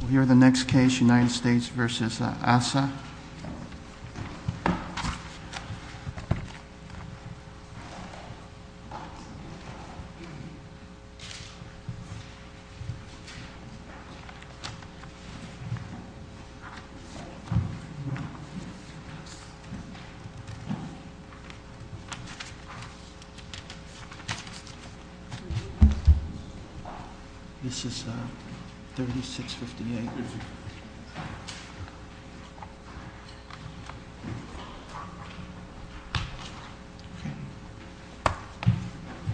We'll hear the next case, United States versus ASSA. Assa. Good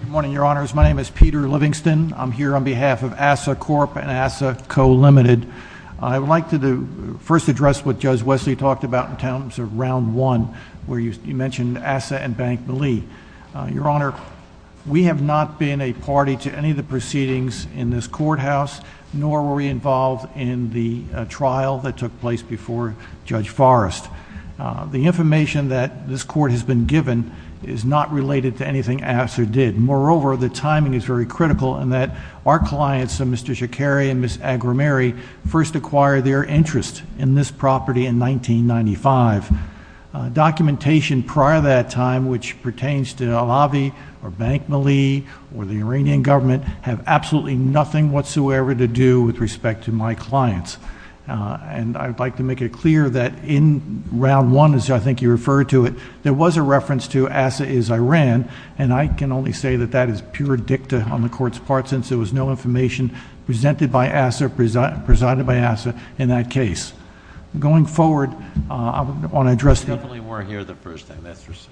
morning, Your Honors. My name is Peter Livingston. I'm here on behalf of ASSA Corp. and ASSA Co. Ltd. I would like to first address what Judge Wesley talked about in terms of round one, where you mentioned ASSA and Bank Mali. Your Honor, we have not been a party to any of the proceedings in this courthouse, nor were we involved in the trial that took place before Judge Forrest. The information that this Court has been given is not related to anything ASSA did. Moreover, the timing is very critical in that our clients, Mr. Shakeri and Ms. Agrameri, first acquired their interest in this property in 1995. Documentation prior to that time, which pertains to Alavi or Bank Mali or the Iranian government, have absolutely nothing whatsoever to do with respect to my clients. I'd like to make it clear that in round one, as I think you referred to it, there was a reference to ASSA is Iran, and I can only say that that is pure dicta on the Court's part since there was no information presented by ASSA or presided by ASSA in that case. Going forward, I want to address... You definitely weren't here the first time, that's for sure.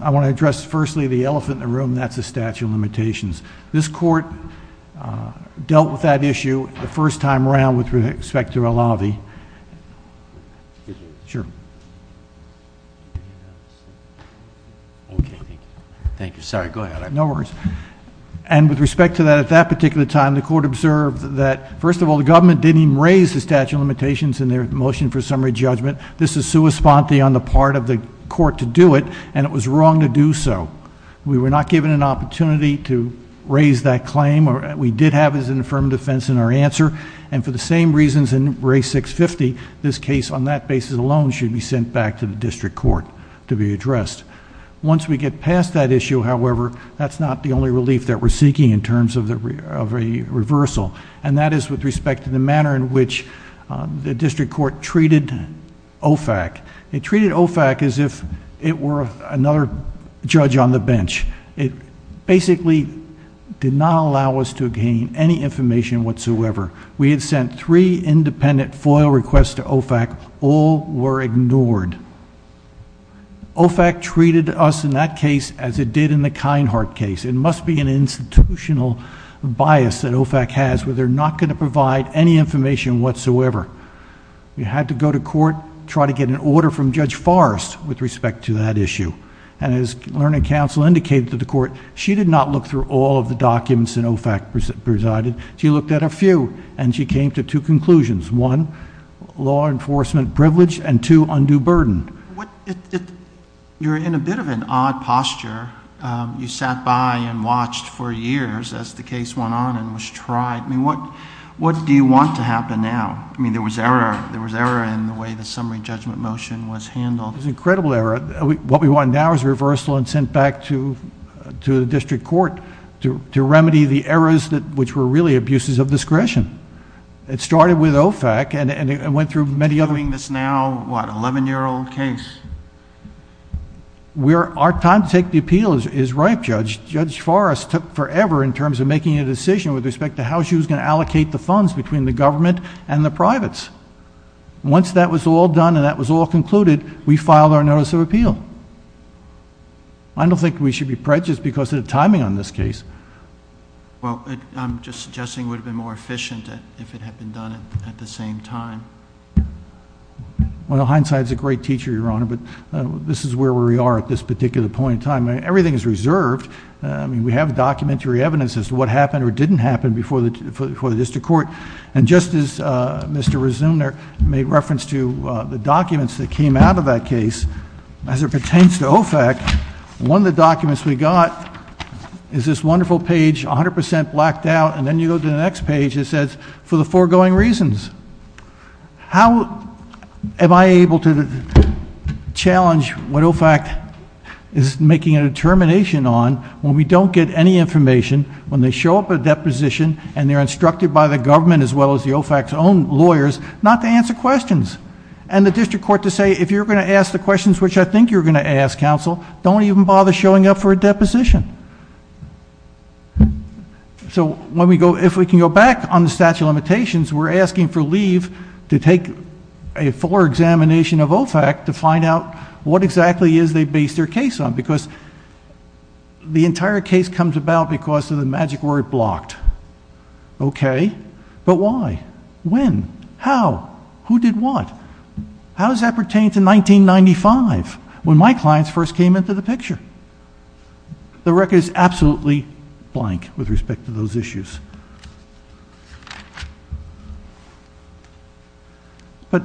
I want to address firstly the elephant in the room, and that's the statute of limitations. This Court dealt with that issue the first time around with respect to Alavi. With respect to that, at that particular time, the Court observed that, first of all, the government didn't even raise the statute of limitations in their motion for summary judgment. This is sui sponte on the part of the Court to do it, and it was wrong to do so. We were not given an opportunity to raise that claim. We did have it as an affirmative defense in our answer, and for the same reasons in Ray 650, this case on that basis alone should be sent back to the district court to be addressed. Once we get past that issue, however, that's not the only relief that we're seeking in terms of a reversal, and that is with respect to the manner in which the district court treated OFAC. It treated OFAC as if it were another judge on the bench. It basically did not allow us to gain any information whatsoever. We had sent three independent FOIL requests to OFAC, all were ignored. OFAC treated us in that case as it did in the Kinehart case. It must be an institutional bias that OFAC has where they're not going to provide any information whatsoever. We had to go to court, try to get an order from Judge Forrest with respect to that issue. And as learning counsel indicated to the court, she did not look through all of the documents that OFAC presided. She looked at a few, and she came to two conclusions. One, law enforcement privilege, and two, undue burden. You're in a bit of an odd posture. You sat by and watched for years as the case went on and was tried. I mean, what do you want to happen now? I mean, there was error in the way the summary judgment motion was handled. It was an incredible error. What we want now is a reversal and sent back to the district court to remedy the errors, which were really abuses of discretion. It started with OFAC and it went through many other- Doing this now, what, 11-year-old case? Our time to take the appeal is ripe, Judge. Judge Forrest took forever in terms of making a decision with respect to how she was going to allocate the funds between the government and the privates. Once that was all done and that was all concluded, we filed our notice of appeal. I don't think we should be prejudiced because of the timing on this case. Well, I'm just suggesting it would have been more efficient if it had been done at the same time. Well, hindsight's a great teacher, Your Honor, but this is where we are at this particular point in time. Everything is reserved. We have documentary evidence as to what happened or didn't happen before the district court. And just as Mr. Resumner made reference to the documents that came out of that case, as it pertains to OFAC, one of the documents we got is this wonderful page, 100% blacked out, and then you go to the next page, it says, for the foregoing reasons. How am I able to challenge what OFAC is making a determination on when we don't get any information, when they show up at a deposition and they're instructed by the government as well as the OFAC's own lawyers not to answer questions. And the district court to say, if you're going to ask the questions which I think you're going to ask, counsel, don't even bother showing up for a deposition. So if we can go back on the statute of limitations, we're asking for leave to take a fuller examination of OFAC to find out what exactly is they based their case on. Because the entire case comes about because of the magic word blocked. Okay, but why? When? How? Who did what? How does that pertain to 1995, when my clients first came into the picture? The record is absolutely blank with respect to those issues. But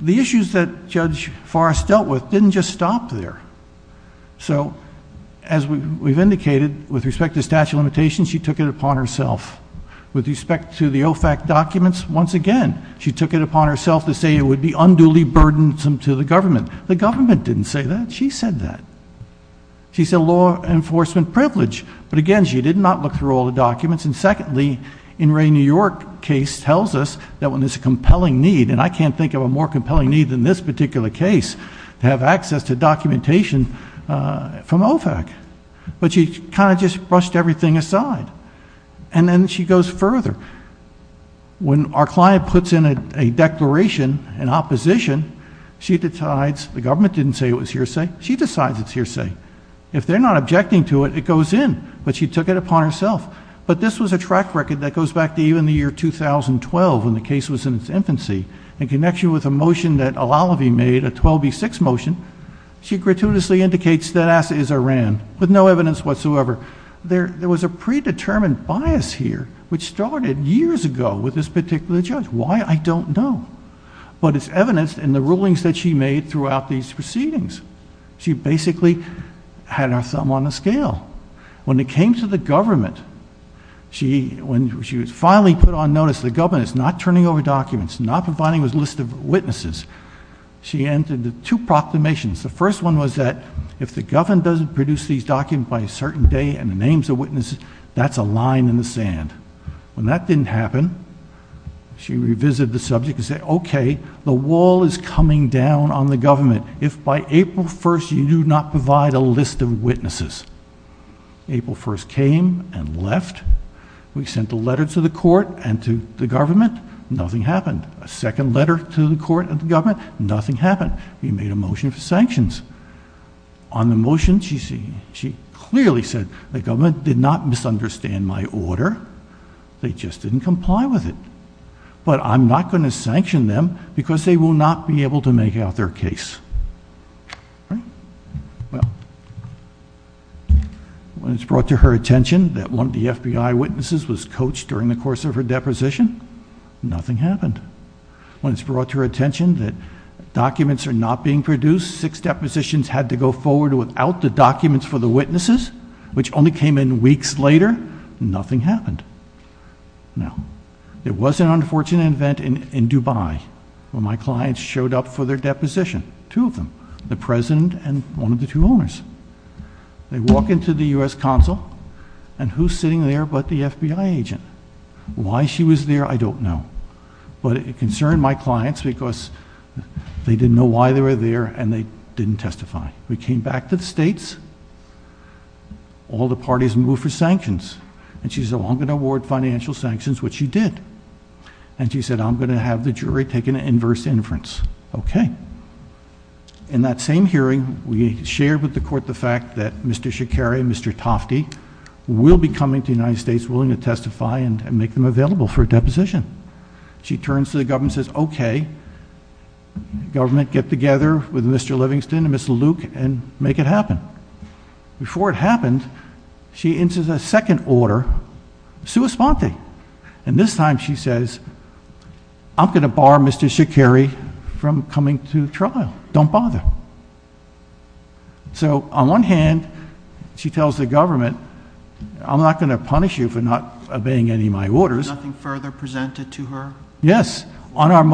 the issues that Judge Forrest dealt with didn't just stop there. So as we've indicated, with respect to statute of limitations, she took it upon herself. With respect to the OFAC documents, once again, she took it upon herself to say it would be unduly burdensome to the government. The government didn't say that, she said that. She said law enforcement privilege. But again, she did not look through all the documents. And secondly, in Ray New York case tells us that when there's a compelling need, and I can't think of a more compelling need than this particular case, to have access to documentation from OFAC. But she kind of just brushed everything aside, and then she goes further. When our client puts in a declaration in opposition, she decides, the government didn't say it was hearsay, she decides it's hearsay. If they're not objecting to it, it goes in, but she took it upon herself. But this was a track record that goes back to even the year 2012, when the case was in its infancy. In connection with a motion that Alalavi made, a 12B6 motion, she gratuitously indicates that asset is Iran, with no evidence whatsoever. There was a predetermined bias here, which started years ago with this particular judge. Why, I don't know. But it's evidenced in the rulings that she made throughout these proceedings. She basically had her thumb on the scale. When it came to the government, when she was finally put on notice, the government is not turning over documents, not providing this list of witnesses, she entered two proclamations. The first one was that if the government doesn't produce these documents by a certain day and the names of witnesses, that's a line in the sand. When that didn't happen, she revisited the subject and said, okay, the wall is coming down on the government. If by April 1st, you do not provide a list of witnesses, April 1st came and left. We sent a letter to the court and to the government, nothing happened. A second letter to the court and the government, nothing happened. We made a motion for sanctions. On the motion, she clearly said the government did not misunderstand my order. They just didn't comply with it. But I'm not going to sanction them because they will not be able to make out their case, right? Well, when it's brought to her attention that one of the FBI witnesses was coached during the course of her deposition, nothing happened. When it's brought to her attention that documents are not being produced, six depositions had to go forward without the documents for the witnesses, which only came in weeks later, nothing happened. Now, there was an unfortunate event in Dubai where my clients showed up for their deposition, two of them, the president and one of the two owners. They walk into the US Consul, and who's sitting there but the FBI agent. Why she was there, I don't know. But it concerned my clients because they didn't know why they were there and they didn't testify. We came back to the states, all the parties moved for sanctions. And she said, I'm going to award financial sanctions, which she did. And she said, I'm going to have the jury take an inverse inference. Okay. In that same hearing, we shared with the court the fact that Mr. Shikari and Mr. Shikari will testify and make them available for a deposition. She turns to the government and says, okay, government get together with Mr. Livingston and Mr. Luke and make it happen. Before it happened, she enters a second order, sua sponte. And this time she says, I'm going to bar Mr. Shikari from coming to trial. Don't bother. So on one hand, she tells the government, I'm not going to punish you for not obeying any of my orders. Nothing further presented to her? Yes. On our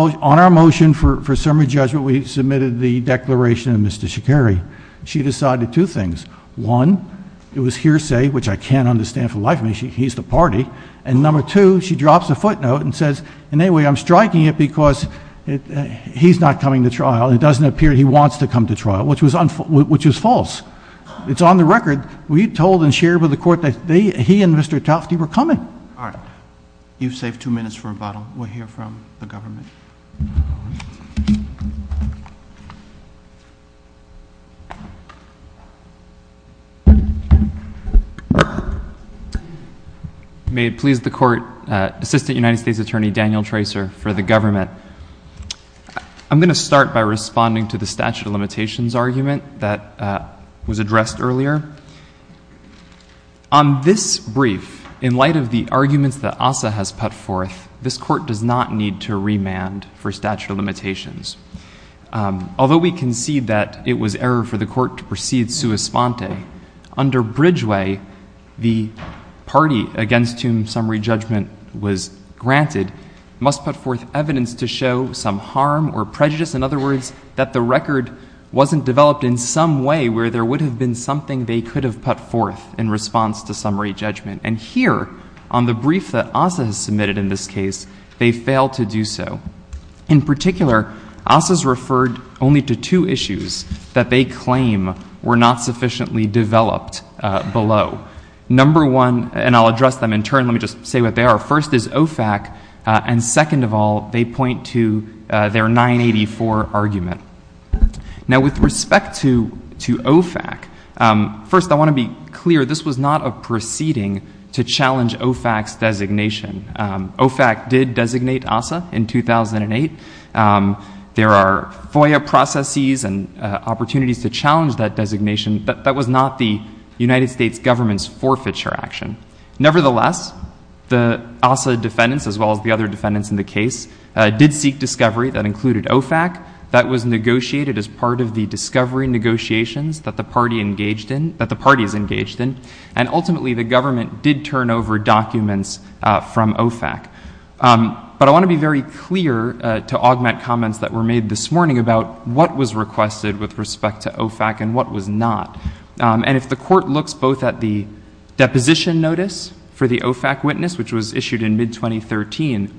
motion for summary judgment, we submitted the declaration of Mr. Shikari. She decided two things. One, it was hearsay, which I can't understand for the life of me, he's the party. And number two, she drops a footnote and says, and anyway, I'm striking it because he's not coming to trial. It doesn't appear he wants to come to trial, which is false. It's on the record. We told and shared with the court that he and Mr. Tufte were coming. All right. You've saved two minutes for rebuttal. We'll hear from the government. May it please the court, Assistant United States Attorney Daniel Tracer for the government. I'm going to start by responding to the statute of limitations argument that was addressed earlier. On this brief, in light of the arguments that ASSA has put forth, this court does not need to remand for statute of limitations. Although we concede that it was error for the court to proceed sua sponte, under Bridgeway, the party against whom summary judgment was granted must put forth evidence to show some harm or prejudice. In other words, that the record wasn't developed in some way where there would have been something they could have put forth in response to summary judgment. And here, on the brief that ASSA has submitted in this case, they failed to do so. In particular, ASSA's referred only to two issues that they claim were not sufficiently developed below. Number one, and I'll address them in turn, let me just say what they are. First is OFAC, and second of all, they point to their 984 argument. Now with respect to OFAC, first I want to be clear, this was not a proceeding to challenge OFAC's designation. OFAC did designate ASSA in 2008. There are FOIA processes and opportunities to challenge that designation, but that was not the United States government's forfeiture action. Nevertheless, the ASSA defendants, as well as the other defendants in the case, did seek discovery that included OFAC. That was negotiated as part of the discovery negotiations that the party engaged in, that the party is engaged in. And ultimately, the government did turn over documents from OFAC. But I want to be very clear to augment comments that were made this morning about what was requested with respect to OFAC and what was not. And if the court looks both at the deposition notice for the OFAC witness, which was issued in mid-2013,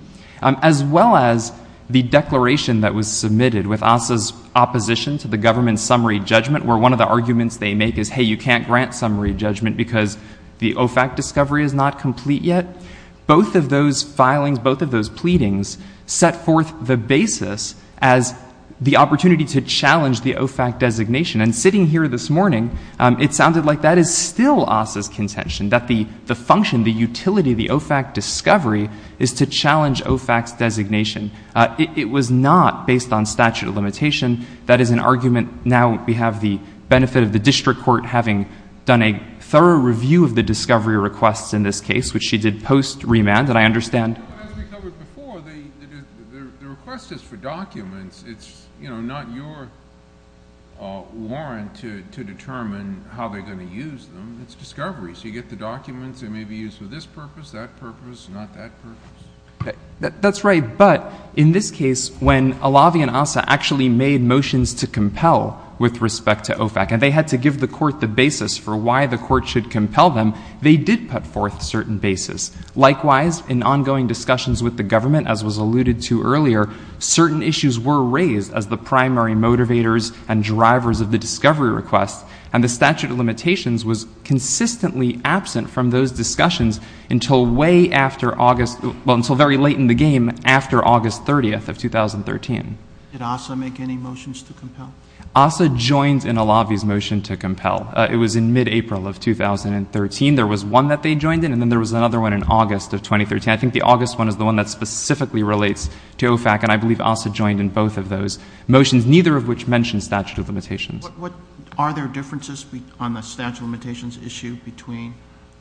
as well as the declaration that was submitted with ASSA's opposition to the government's summary judgment, where one of the arguments they make is, hey, you can't grant summary judgment because the OFAC discovery is not complete yet. Both of those filings, both of those pleadings set forth the basis as the opportunity to challenge the OFAC designation. And sitting here this morning, it sounded like that is still ASSA's contention, that the function, the utility of the OFAC discovery is to challenge OFAC's designation. It was not based on statute of limitation. That is an argument. Now we have the benefit of the district court having done a thorough review of the discovery requests in this case, which she did post-remand. And I understand- But as we covered before, the request is for documents. It's not your warrant to determine how they're going to use them. It's discovery. So you get the documents. They may be used for this purpose, that purpose, not that purpose. That's right. But in this case, when Alavi and ASSA actually made motions to compel with respect to OFAC, and they had to give the court the basis for why the court should compel them, they did put forth certain basis. Likewise, in ongoing discussions with the government, as was alluded to earlier, certain issues were raised as the primary motivators and drivers of the discovery request. And the statute of limitations was consistently absent from those discussions until way after August- well, until very late in the game, after August 30th of 2013. Did ASSA make any motions to compel? ASSA joined in Alavi's motion to compel. It was in mid-April of 2013. There was one that they joined in, and then there was another one in August of 2013. I think the August one is the one that specifically relates to OFAC. And I believe ASSA joined in both of those motions, neither of which mentioned statute of limitations. What- are there differences on the statute of limitations issue between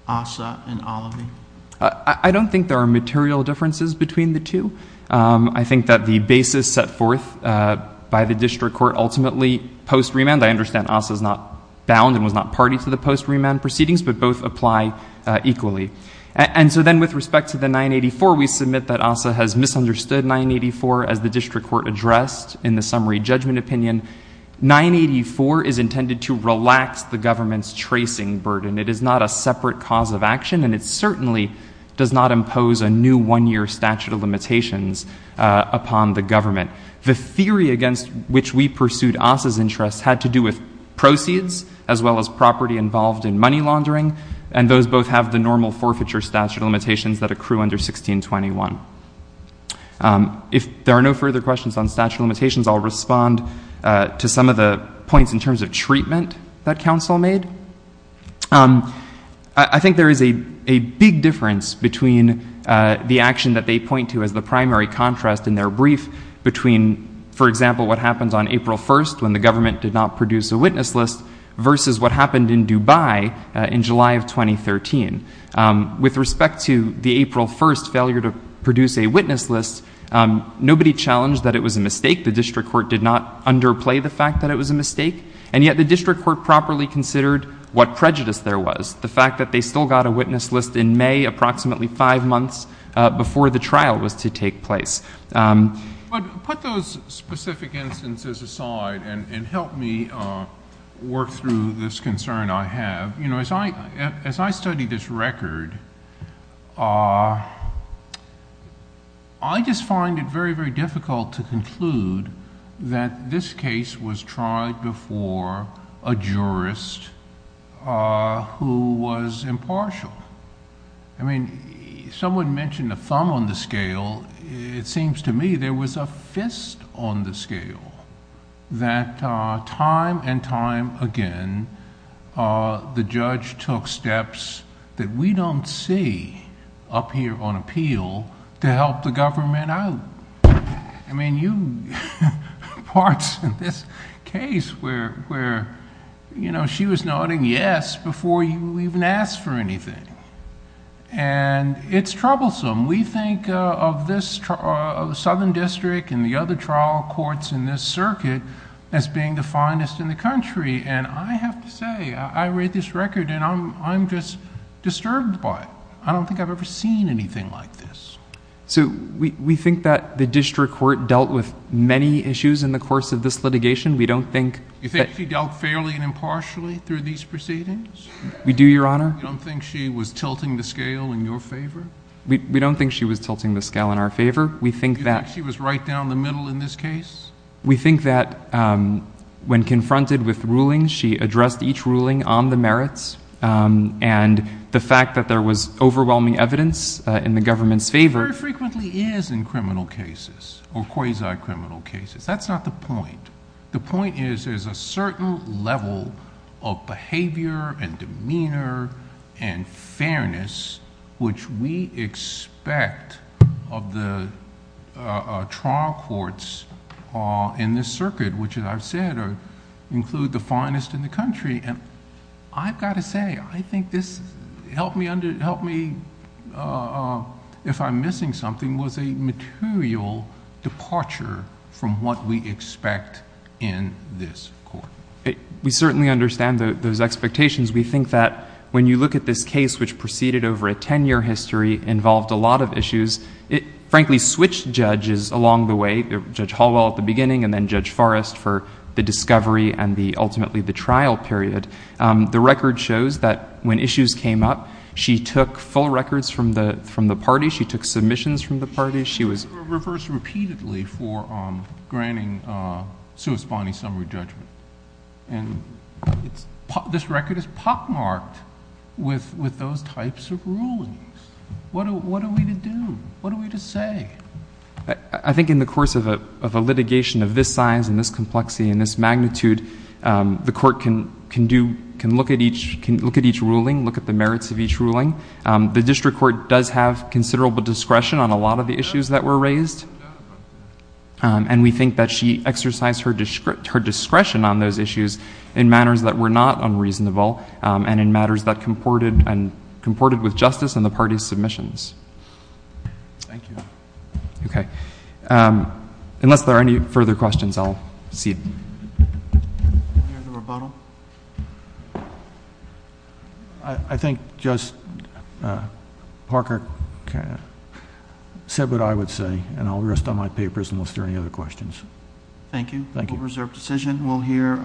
ASSA and Alavi? I don't think there are material differences between the two. I think that the basis set forth by the district court ultimately post-remand, I understand ASSA's not bound and was not party to the post-remand proceedings, but both apply equally. And so then with respect to the 984, we submit that ASSA has misunderstood 984 as the district court addressed in the summary judgment opinion. 984 is intended to relax the government's tracing burden. It is not a separate cause of action, and it certainly does not impose a new one-year statute of limitations upon the government. The theory against which we pursued ASSA's interests had to do with proceeds, as well as property involved in money laundering. And those both have the normal forfeiture statute of limitations that accrue under 1621. If there are no further questions on statute of limitations, I'll respond to some of the points in terms of treatment that counsel made. I think there is a big difference between the action that they point to as the primary contrast in their brief, between, for example, what happens on April 1st when the government did not produce a witness list, versus what happened in Dubai in July of 2013. With respect to the April 1st failure to produce a witness list, nobody challenged that it was a mistake. The district court did not underplay the fact that it was a mistake. And yet the district court properly considered what prejudice there was. The fact that they still got a witness list in May, approximately five months before the trial was to take place. But put those specific instances aside and help me work through this concern I have. As I study this record, I just find it very, very difficult to conclude that this case was tried before a jurist who was impartial. I mean, someone mentioned a thumb on the scale. It seems to me there was a fist on the scale. That time and time again, the judge took steps that we don't see up here on appeal to help the government out. I mean, you... Parts of this case where she was nodding yes before you even asked for anything. It's troublesome. We think of this southern district and the other trial courts in this circuit as being the finest in the country. And I have to say, I read this record and I'm just disturbed by it. I don't think I've ever seen anything like this. So we think that the district court dealt with many issues in the course of this litigation. We don't think... You think she dealt fairly and impartially through these proceedings? We do, Your Honor. You don't think she was tilting the scale in your favor? We don't think she was tilting the scale in our favor. We think that... You think she was right down the middle in this case? We think that when confronted with rulings, she addressed each ruling on the merits. And the fact that there was overwhelming evidence in the government's favor... It very frequently is in criminal cases or quasi-criminal cases. That's not the point. The point is, there's a certain level of behavior and demeanor and fairness, which we expect of the trial courts in this circuit, which as I've said, include the finest in the country. And I've got to say, I think this helped me, if I'm missing something, was a material departure from what we expect in this court. We certainly understand those expectations. We think that when you look at this case, which proceeded over a ten-year history, involved a lot of issues. It frankly switched judges along the way, Judge Hallwell at the beginning and then Judge Forrest for the discovery and ultimately the trial period. The record shows that when issues came up, she took full records from the party. She took submissions from the party. She was... She was reversed repeatedly for granting sui spani summary judgment. This record is pockmarked with those types of rulings. What are we to do? What are we to say? I think in the course of a litigation of this size and this complexity and this magnitude, the district court does have considerable discretion on a lot of the issues that were raised. And we think that she exercised her discretion on those issues in manners that were not unreasonable and in matters that comported with justice and the party's submissions. Thank you. Okay. Unless there are any further questions, I'll cede. Any other rebuttal? I think Judge Parker said what I would say and I'll rest on my papers unless there are any other questions. Thank you. Thank you. We'll reserve decision.